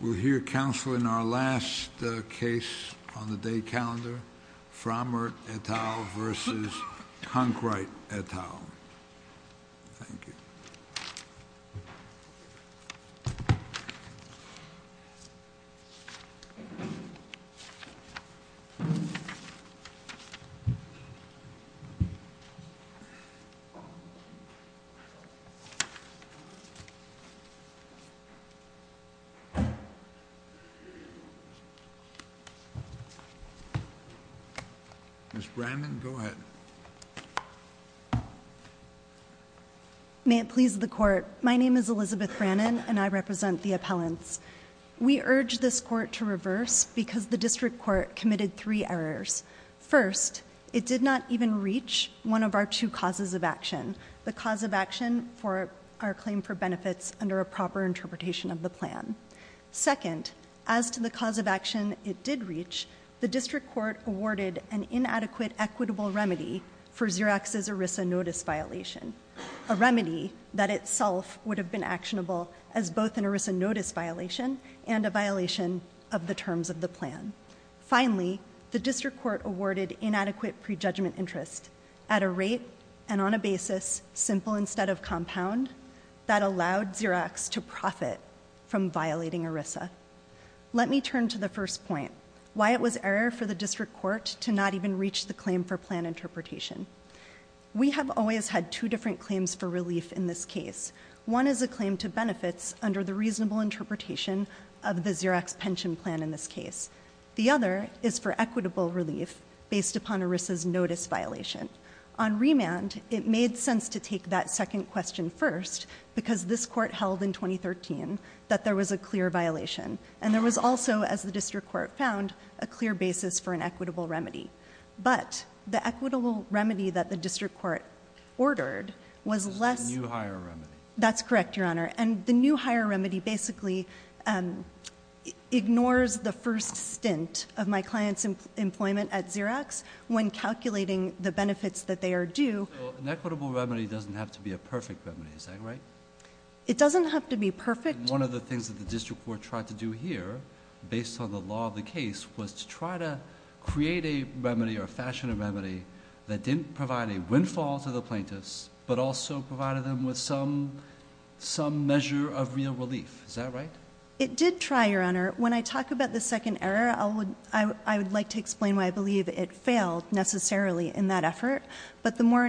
We'll hear counsel in our last case on the day calendar, Frommert et al. v. Conkright et al. Thank you. Ms. Brannon, go ahead. May it please the Court, my name is Elizabeth Brannon and I represent the appellants. We urge this Court to reverse because the District Court committed three errors. First, it did not even reach one of our two causes of action, the cause of action for our claim for benefits under a proper interpretation of the plan. Second, as to the cause of action it did reach, the District Court awarded an inadequate equitable remedy for Xerox's ERISA notice violation, a remedy that itself would have been actionable as both an ERISA notice violation and a violation of the terms of the plan. Finally, the District Court awarded inadequate prejudgment interest at a rate and on a basis simple instead of compound that allowed Xerox to profit from violating ERISA. Let me turn to the first point, why it was error for the District Court to not even reach the claim for plan interpretation. We have always had two different claims for relief in this case. One is a claim to benefits under the reasonable interpretation of the Xerox pension plan in this case. The other is for equitable relief based upon ERISA's notice violation. On remand, it made sense to take that second question first because this court held in 2013 that there was a clear violation and there was also, as the District Court found, a clear basis for an equitable remedy. But the equitable remedy that the District Court ordered was less- The new higher remedy. That's correct, Your Honor. And the new higher remedy basically ignores the first stint of my client's employment at Xerox when calculating the benefits that they are due. So an equitable remedy doesn't have to be a perfect remedy, is that right? It doesn't have to be perfect. One of the things that the District Court tried to do here based on the law of the case was to try to create a remedy or fashion a remedy that didn't provide a windfall to the plaintiffs but also provided them with some measure of real relief, is that right? It did try, Your Honor. When I talk about the second error, I would like to explain why I believe it failed necessarily in that effort. But the more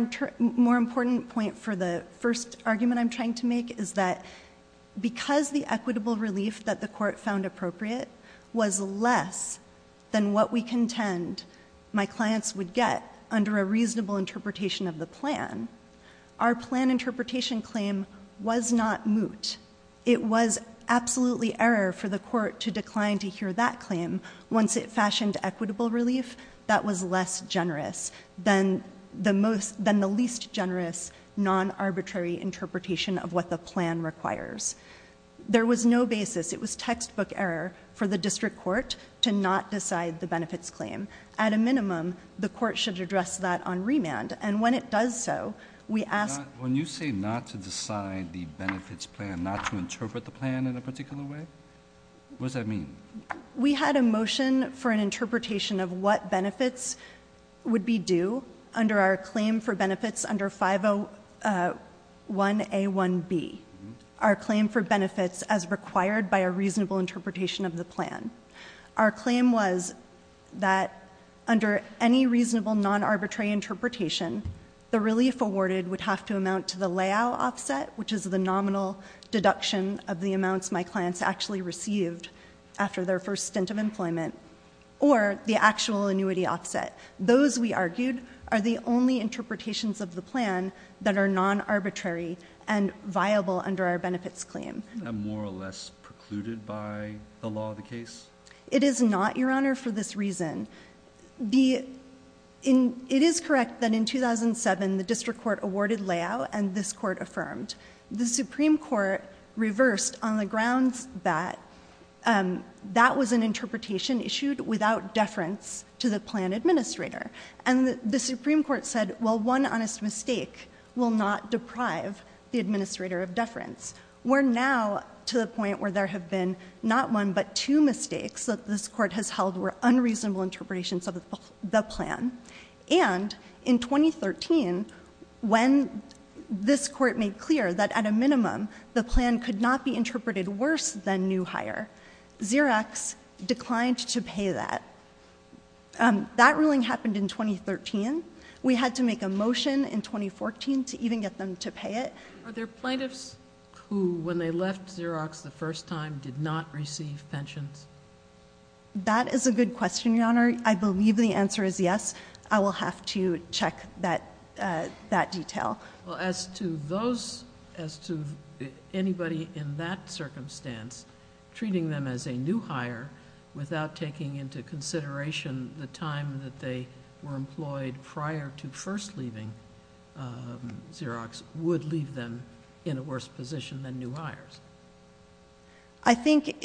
important point for the first argument I'm trying to make is that because the equitable relief that the court found appropriate was less than what we contend my clients would get under a reasonable interpretation of the plan. Our plan interpretation claim was not moot. It was absolutely error for the court to decline to hear that claim once it fashioned equitable relief. That was less generous than the least generous non-arbitrary interpretation of what the plan requires. There was no basis. It was textbook error for the district court to not decide the benefits claim. At a minimum, the court should address that on remand. And when it does so, we ask- When you say not to decide the benefits plan, not to interpret the plan in a particular way, what does that mean? We had a motion for an interpretation of what benefits would be due under our claim for benefits under 501A1B. Our claim for benefits as required by a reasonable interpretation of the plan. Our claim was that under any reasonable non-arbitrary interpretation, the relief awarded would have to amount to the layout offset, which is the nominal deduction of the amounts my clients actually received after their first stint of employment, or the actual annuity offset. Those, we argued, are the only interpretations of the plan that are non-arbitrary and viable under our benefits claim. And more or less precluded by the law of the case? It is not, your honor, for this reason. It is correct that in 2007, the district court awarded layout and this court affirmed. The Supreme Court reversed on the grounds that that was an interpretation issued without deference to the plan administrator. And the Supreme Court said, well, one honest mistake will not deprive the administrator of deference. We're now to the point where there have been not one, but two mistakes that this court has held were unreasonable interpretations of the plan. And in 2013, when this court made clear that at a minimum, the plan could not be interpreted worse than new hire, Xerox declined to pay that. That ruling happened in 2013. We had to make a motion in 2014 to even get them to pay it. Are there plaintiffs who, when they left Xerox the first time, did not receive pensions? That is a good question, your honor. I believe the answer is yes. I will have to check that detail. Well, as to those, as to anybody in that circumstance, treating them as a new hire without taking into consideration the time that they were employed prior to first leaving Xerox would leave them in a worse position than new hires. I think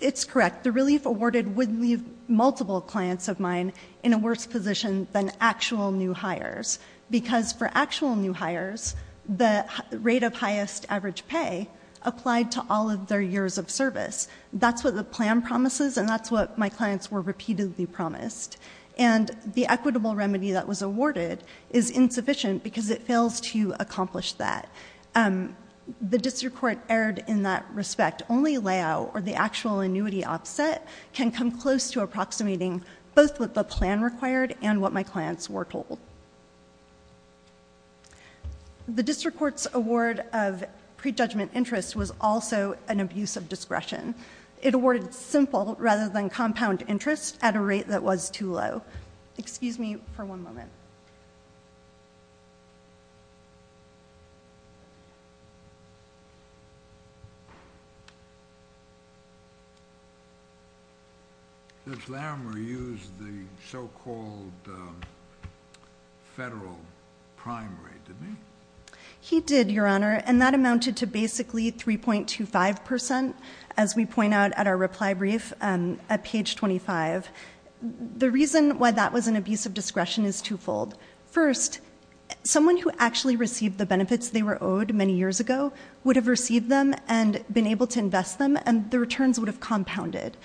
it's correct. The relief awarded would leave multiple clients of mine in a worse position than actual new hires. Because for actual new hires, the rate of highest average pay applied to all of their years of service. That's what the plan promises, and that's what my clients were repeatedly promised. And the equitable remedy that was awarded is insufficient because it fails to accomplish that. The district court erred in that respect. Only layout or the actual annuity offset can come close to approximating both what the plan required and what my clients were told. The district court's award of prejudgment interest was also an abuse of discretion. It awarded simple rather than compound interest at a rate that was too low. Excuse me for one moment. Does Larimer use the so-called federal primary, did he? He did, your honor, and that amounted to basically 3.25% as we point out at our reply brief at page 25. The reason why that was an abuse of discretion is twofold. First, someone who actually received the benefits they were owed many years ago would have received them and been able to invest them, and the returns would have compounded.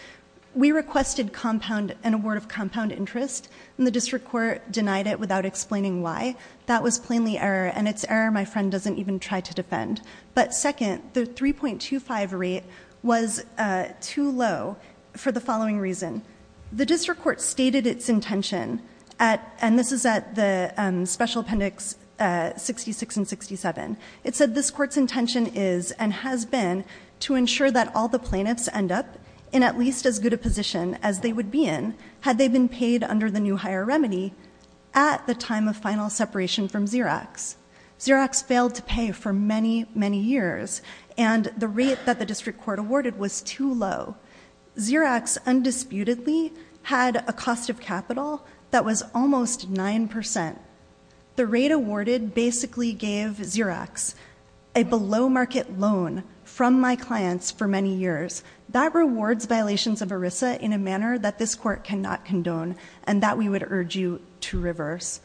We requested an award of compound interest, and the district court denied it without explaining why. That was plainly error, and it's error my friend doesn't even try to defend. But second, the 3.25 rate was too low for the following reason. The district court stated its intention, and this is at the special appendix 66 and 67. It said this court's intention is and has been to ensure that all the plaintiffs end up in at least as good a position as they would be in, had they been paid under the new higher remedy at the time of final separation from Xerox. Xerox failed to pay for many, many years, and the rate that the district court awarded was too low. Xerox undisputedly had a cost of capital that was almost 9%. The rate awarded basically gave Xerox a below market loan from my clients for many years. That rewards violations of ERISA in a manner that this court cannot condone, and that we would urge you to reverse.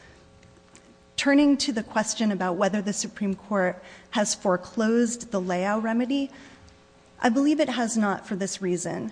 Turning to the question about whether the Supreme Court has foreclosed the layout remedy, I believe it has not for this reason.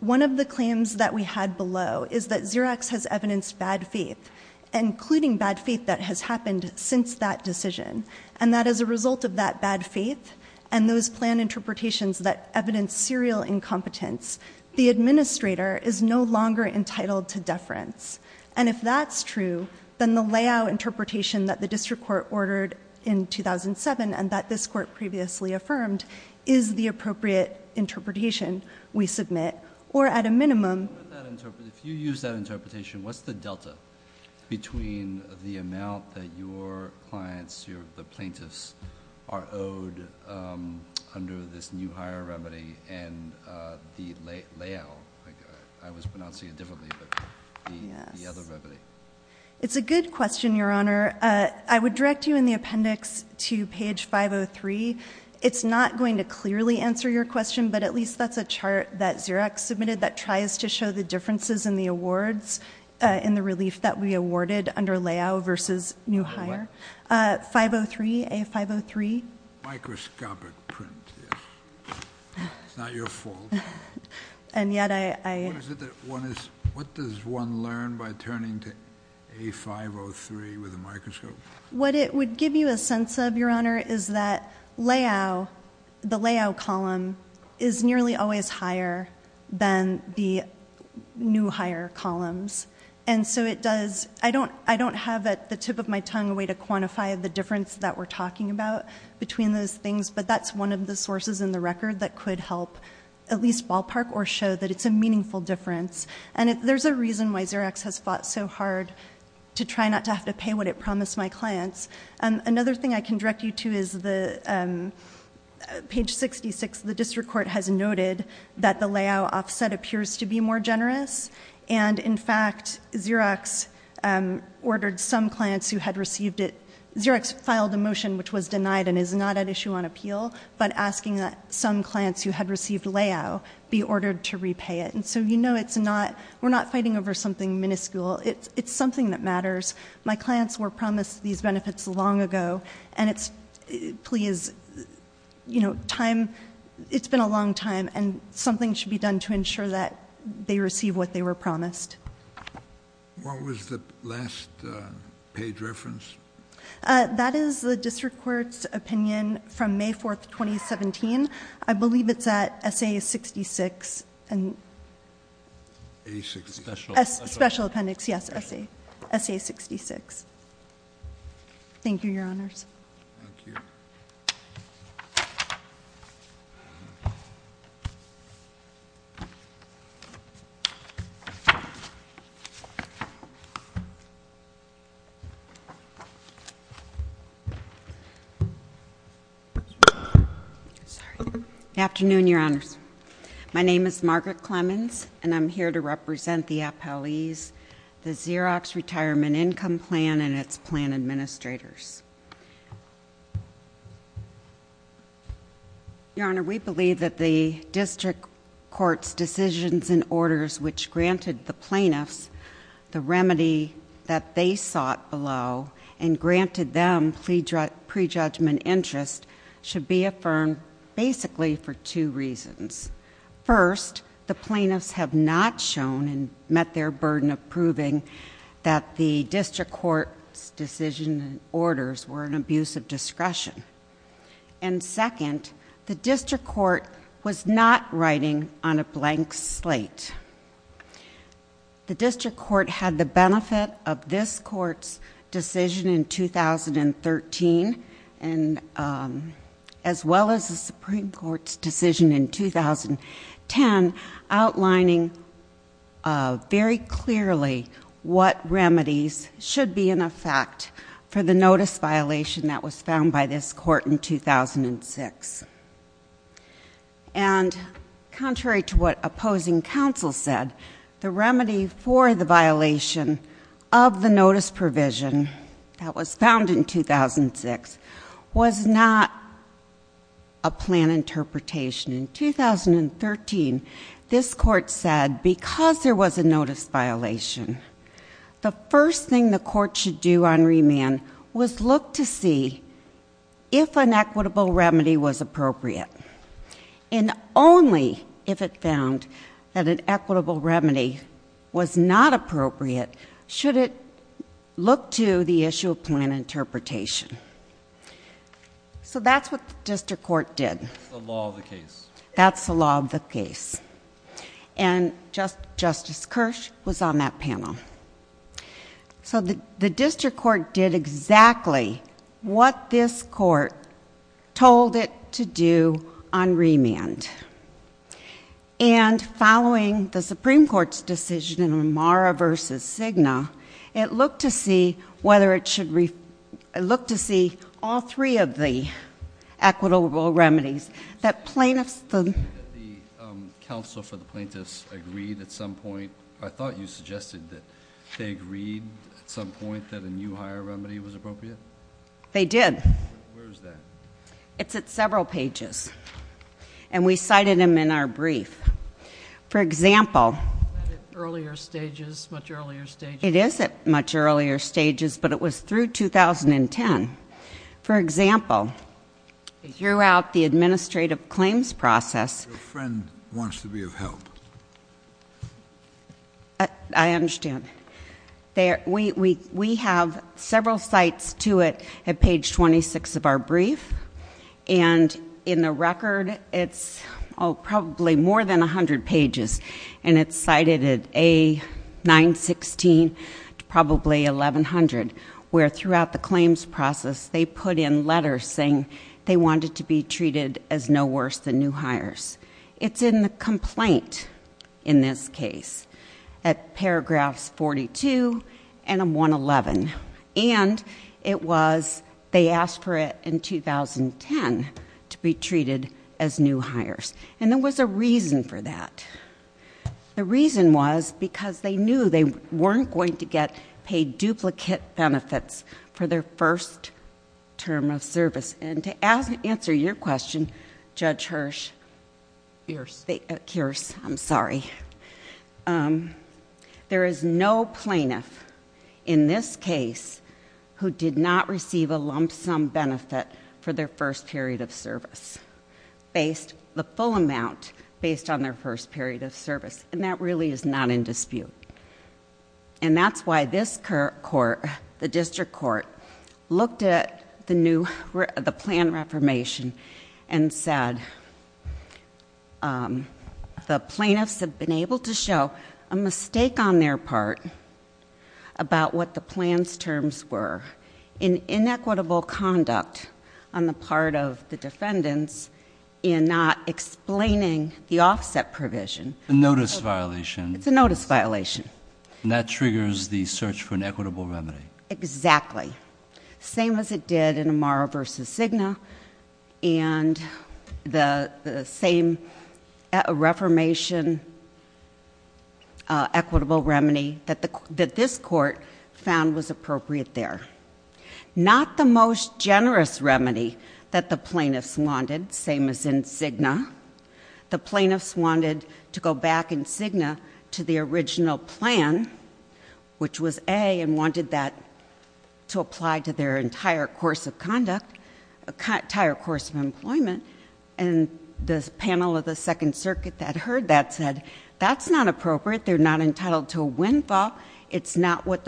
One of the claims that we had below is that Xerox has evidenced bad faith, including bad faith that has happened since that decision, and that as a result of that bad faith, and those plan interpretations that evidence serial incompetence, the administrator is no longer entitled to deference. And if that's true, then the layout interpretation that the district court ordered in 2007 and that this court previously affirmed is the appropriate interpretation we submit, or at a minimum- If you use that interpretation, what's the delta between the amount that your clients, the plaintiffs, are owed under this new higher remedy and the layout, I was pronouncing it differently, but the other remedy. It's a good question, your honor. I would direct you in the appendix to page 503. It's not going to clearly answer your question, but at least that's a chart that Xerox submitted that tries to show the differences in the awards, in the relief that we awarded under layout versus new higher. 503, A503. Microscopic print, yes. It's not your fault. And yet I- What is it that one is, what does one learn by turning to A503 with a microscope? What it would give you a sense of, your honor, is that layout, the layout column is nearly always higher than the new higher columns. And so it does, I don't have at the tip of my tongue a way to quantify the difference that we're talking about between those things. But that's one of the sources in the record that could help at least ballpark or show that it's a meaningful difference. And there's a reason why Xerox has fought so hard to try not to have to pay what it promised my clients. Another thing I can direct you to is the page 66, the district court has noted that the layout offset appears to be more generous. And in fact, Xerox ordered some clients who had received it. Xerox filed a motion which was denied and is not at issue on appeal, but asking that some clients who had received layout be ordered to repay it. And so you know it's not, we're not fighting over something minuscule. It's something that matters. My clients were promised these benefits long ago, and it's, please, time, it's been a long time, and something should be done to ensure that they receive what they were promised. What was the last page reference? That is the district court's opinion from May 4th, 2017. I believe it's at SA 66 and- A66. Special appendix, yes, SA 66. Thank you, your honors. Thank you. Sorry. Good afternoon, your honors. My name is Margaret Clemens, and I'm here to represent the appellees, the Xerox Retirement Income Plan and its plan administrators. Your honor, we believe that the district court's decisions and orders which granted the plaintiffs the remedy that they sought below and granted them pre-judgment interest should be affirmed basically for two reasons. First, the plaintiffs have not shown and met their burden of proving that the district court's decision and orders were an abuse of discretion. And second, the district court was not writing on a blank slate. The district court had the benefit of this court's decision in 2013, and as well as the Supreme Court's decision in 2010, outlining very clearly what remedies should be in effect for the notice violation that was found by this court in 2006. And contrary to what opposing counsel said, the remedy for the violation of the notice provision that was found in 2006 was not a plan interpretation. In 2013, this court said because there was a notice violation, the first thing the court should do on remand was look to see if an equitable remedy was appropriate. And only if it found that an equitable remedy was not appropriate should it look to the issue of plan interpretation. So that's what the district court did. The law of the case. That's the law of the case. And Justice Kirsch was on that panel. So the district court did exactly what this court told it to do on remand. And following the Supreme Court's decision in O'Mara v. Cigna, it looked to see whether it should, it looked to see all three of the equitable remedies that plaintiffs. The counsel for the plaintiffs agreed at some point, I thought you suggested that they agreed at some point that a new hire remedy was appropriate? They did. Where is that? It's at several pages. And we cited them in our brief. For example. Is that at earlier stages, much earlier stages? It is at much earlier stages, but it was through 2010. For example, throughout the administrative claims process. Your friend wants to be of help. I understand. We have several sites to it at page 26 of our brief. And in the record, it's probably more than 100 pages. And it's cited at A916 to probably 1100. Where throughout the claims process, they put in letters saying they wanted to be treated as no worse than new hires. It's in the complaint in this case. At paragraphs 42 and 111. And it was, they asked for it in 2010 to be treated as new hires. And there was a reason for that. The reason was because they knew they weren't going to get paid duplicate benefits for their first term of service. And to answer your question, Judge Hirsch. I'm sorry. There is no plaintiff in this case who did not receive a lump sum benefit for their first period of service. Based the full amount based on their first period of service. And that really is not in dispute. And that's why this court, the district court, looked at the plan reformation. And said the plaintiffs have been able to show a mistake on their part about what the plan's terms were. In inequitable conduct on the part of the defendants in not explaining the offset provision. A notice violation. It's a notice violation. And that triggers the search for an equitable remedy. Exactly. Same as it did in Amara versus Cigna. And the same reformation equitable remedy that this court found was appropriate there. Not the most generous remedy that the plaintiffs wanted, same as in Cigna. The plaintiffs wanted to go back in Cigna to the original plan, which was A, and wanted that to apply to their entire course of conduct, entire course of employment. And this panel of the Second Circuit that heard that said, that's not appropriate. They're not entitled to a windfall. It's not what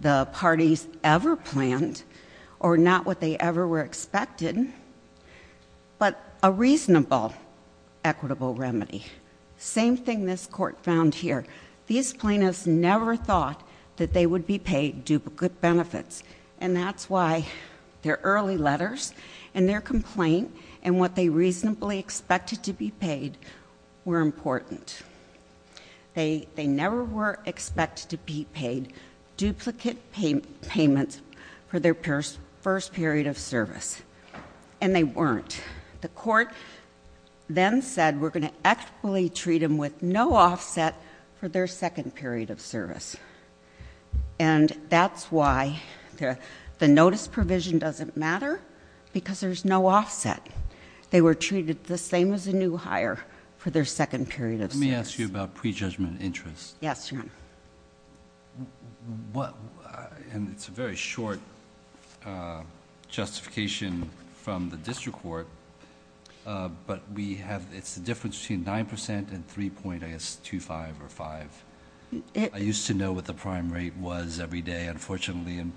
the parties ever planned, or not what they ever were expected. But a reasonable equitable remedy. Same thing this court found here. These plaintiffs never thought that they would be paid duplicate benefits. And that's why their early letters and their complaint. And what they reasonably expected to be paid were important. They never were expected to be paid duplicate payments for their first period of service, and they weren't. The court then said we're going to equitably treat them with no offset for their second period of service. And that's why the notice provision doesn't matter, because there's no offset. They were treated the same as a new hire for their second period of service. Let me ask you about prejudgment interest. Yes, your honor. What, and it's a very short justification from the district court. But we have, it's the difference between 9% and 3.25 or 5. I used to know what the prime rate was every day, unfortunately, in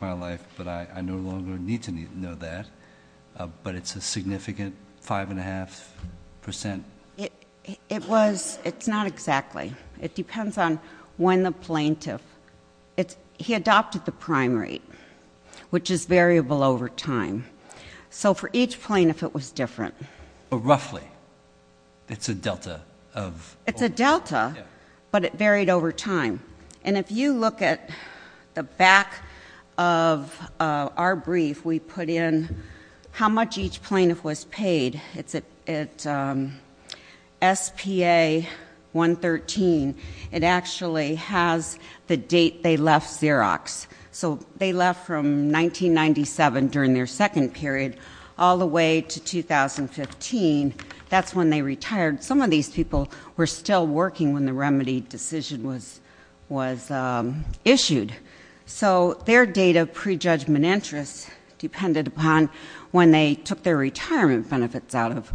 my life, but I no longer need to know that. But it's a significant 5.5%? It was, it's not exactly. It depends on when the plaintiff, he adopted the prime rate, which is variable over time. So for each plaintiff it was different. But roughly, it's a delta of- It's a delta, but it varied over time. And if you look at the back of our brief, we put in how much each plaintiff was paid. It's at SPA 113, it actually has the date they left Xerox. So they left from 1997 during their second period, all the way to 2015, that's when they retired. Some of these people were still working when the remedy decision was issued. So their date of prejudgment interest depended upon when they took their retirement benefits out of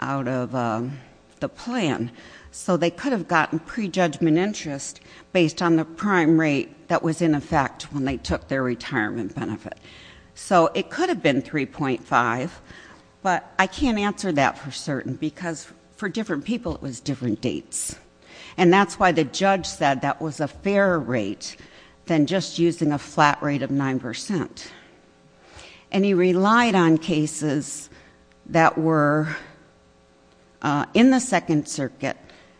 the plan. So they could have gotten prejudgment interest based on the prime rate that was in effect when they took their retirement benefit. So it could have been 3.5, but I can't answer that for certain. Because for different people, it was different dates. And that's why the judge said that was a fairer rate than just using a flat rate of 9%. And he relied on cases that were in the Second Circuit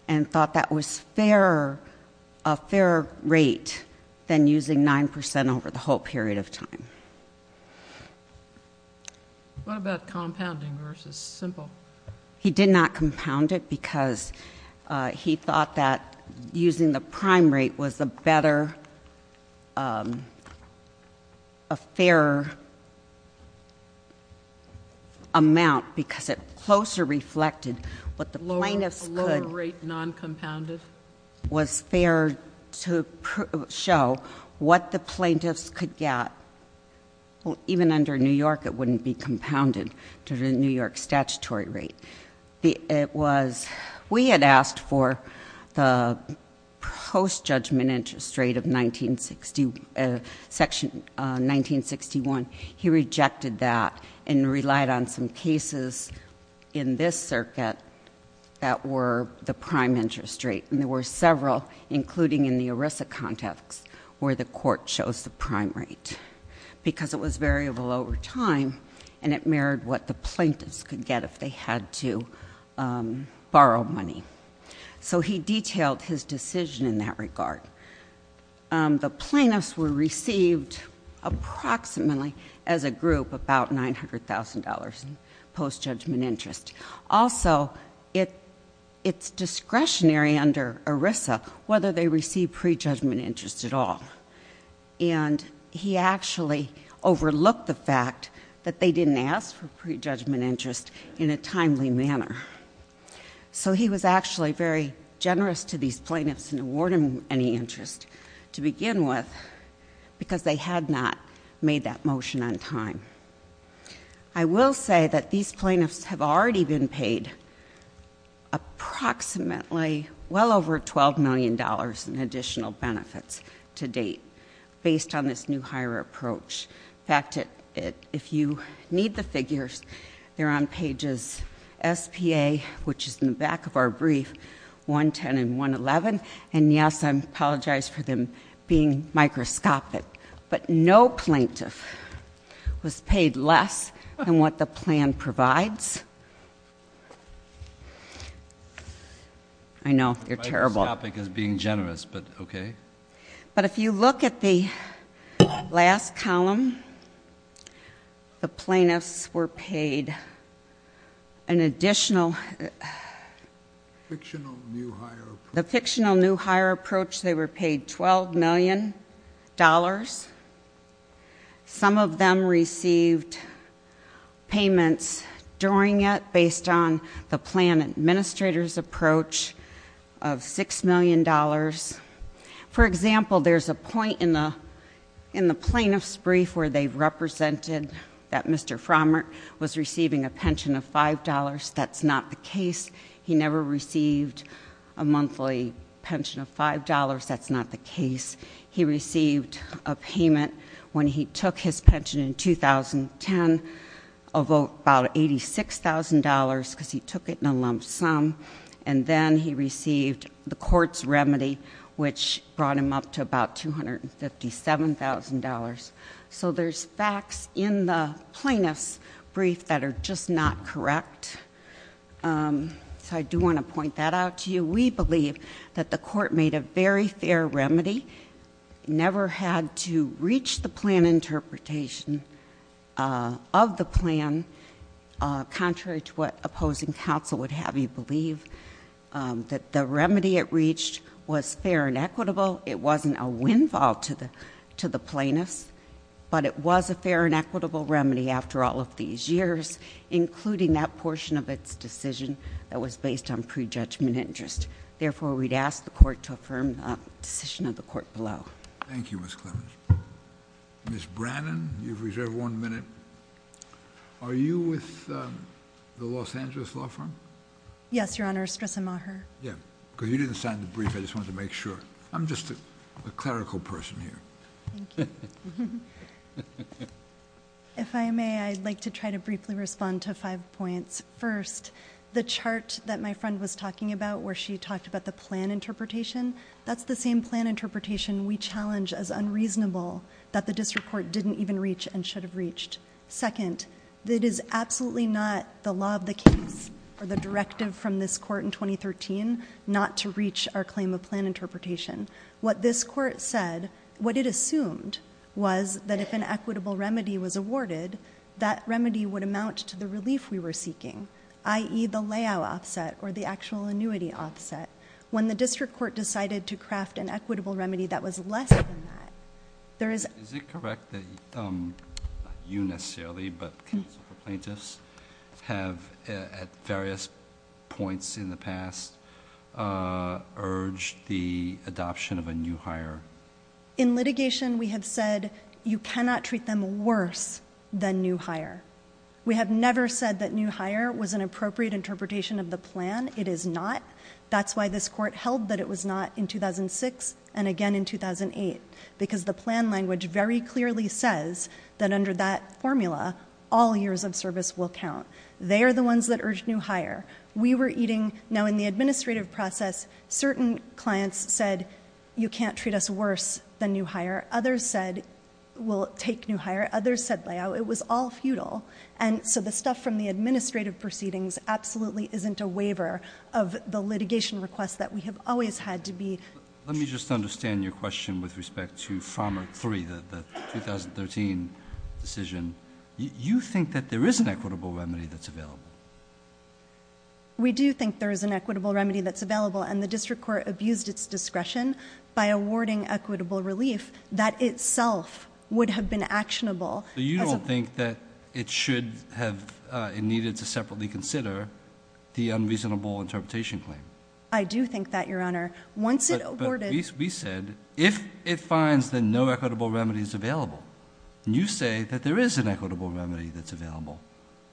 and thought that was a fairer rate than using 9% over the whole period of time. What about compounding versus simple? He did not compound it because he thought that using the prime rate was a better, a fairer amount because it closer reflected what the plaintiffs could- A lower rate non-compounded? Was fair to show what the plaintiffs could get. Well, even under New York, it wouldn't be compounded to the New York statutory rate. We had asked for the post-judgment interest rate of section 1961. He rejected that and relied on some cases in this circuit that were the prime interest rate. And there were several, including in the ERISA context, where the court chose the prime rate. Because it was variable over time, and it mirrored what the plaintiffs could get if they had to borrow money. So he detailed his decision in that regard. The plaintiffs were received approximately, as a group, about $900,000 in post-judgment interest. Also, it's discretionary under ERISA whether they receive pre-judgment interest at all. And he actually overlooked the fact that they didn't ask for pre-judgment interest in a timely manner. So he was actually very generous to these plaintiffs in awarding any interest, to begin with, because they had not made that motion on time. I will say that these plaintiffs have already been paid approximately, well over $12 million in additional benefits to date, based on this new higher approach. In fact, if you need the figures, they're on pages SPA, which is in the back of our brief, 110 and 111, and yes, I apologize for them being microscopic. But no plaintiff was paid less than what the plan provides. I know, you're terrible. This topic is being generous, but okay. But if you look at the last column, the plaintiffs were paid an additional- Fictional new higher approach. They were paid $12 million. Some of them received payments during it, based on the plan administrator's approach of $6 million. For example, there's a point in the plaintiff's brief where they represented that Mr. Frommert was receiving a pension of $5, that's not the case. He never received a monthly pension of $5, that's not the case. He received a payment when he took his pension in 2010 of about $86,000 because he took it in a lump sum. And then he received the court's remedy, which brought him up to about $257,000. So there's facts in the plaintiff's brief that are just not correct. So I do want to point that out to you. We believe that the court made a very fair remedy, never had to reach the plan interpretation of the plan. Contrary to what opposing counsel would have you believe, that the remedy it reached was fair and equitable. It wasn't a windfall to the plaintiffs, but it was a fair and equitable remedy that was based on pre-judgment interest. Therefore, we'd ask the court to affirm the decision of the court below. Thank you, Ms. Clemmons. Ms. Brannon, you've reserved one minute. Are you with the Los Angeles Law Firm? Yes, Your Honor, Estresa Maher. Yeah, because you didn't sign the brief, I just wanted to make sure. I'm just a clerical person here. If I may, I'd like to try to briefly respond to five points. First, the chart that my friend was talking about, where she talked about the plan interpretation, that's the same plan interpretation we challenge as unreasonable that the district court didn't even reach and should have reached. Second, it is absolutely not the law of the case or the directive from this court in 2013 not to reach our claim of plan interpretation. What this court said, what it assumed was that if an equitable remedy was awarded, that remedy would amount to the relief we were seeking, i.e. the layout offset or the actual annuity offset. When the district court decided to craft an equitable remedy that was less than that, there is- Is it correct that, not you necessarily, but counsel for plaintiffs have at various points in the past urged the adoption of a new hire? In litigation, we have said you cannot treat them worse than new hire. We have never said that new hire was an appropriate interpretation of the plan. It is not. That's why this court held that it was not in 2006 and again in 2008. Because the plan language very clearly says that under that formula, all years of service will count. They are the ones that urge new hire. We were eating, now in the administrative process, certain clients said, you can't treat us worse than new hire. Others said, we'll take new hire. Others said layout. It was all futile. And so the stuff from the administrative proceedings absolutely isn't a waiver of the litigation request that we have always had to be. Let me just understand your question with respect to farmer three, the 2013 decision. You think that there is an equitable remedy that's available. We do think there is an equitable remedy that's available. And the district court abused its discretion by awarding equitable relief that itself would have been actionable. So you don't think that it should have, it needed to separately consider the unreasonable interpretation claim? I do think that, your honor. Once it awarded- We said, if it finds that no equitable remedy is available. You say that there is an equitable remedy that's available.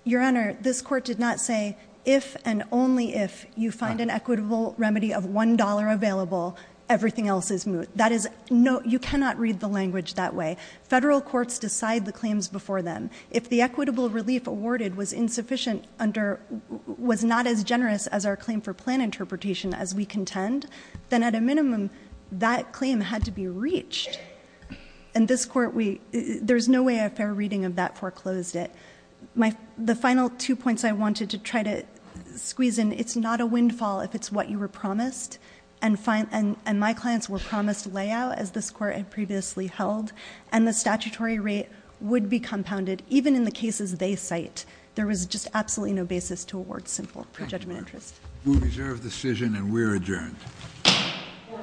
Your honor, this court did not say, if and only if you find an equitable remedy of $1 available, everything else is moot. That is, you cannot read the language that way. Federal courts decide the claims before them. If the equitable relief awarded was insufficient under, was not as generous as our claim for plan interpretation as we contend, then at a minimum, that claim had to be reached. And this court, there's no way a fair reading of that foreclosed it. The final two points I wanted to try to squeeze in, it's not a windfall if it's what you were promised. And my clients were promised layout, as this court had previously held. And the statutory rate would be compounded, even in the cases they cite. There was just absolutely no basis to award simple prejudgment interest. We reserve decision and we're adjourned. Court is adjourned.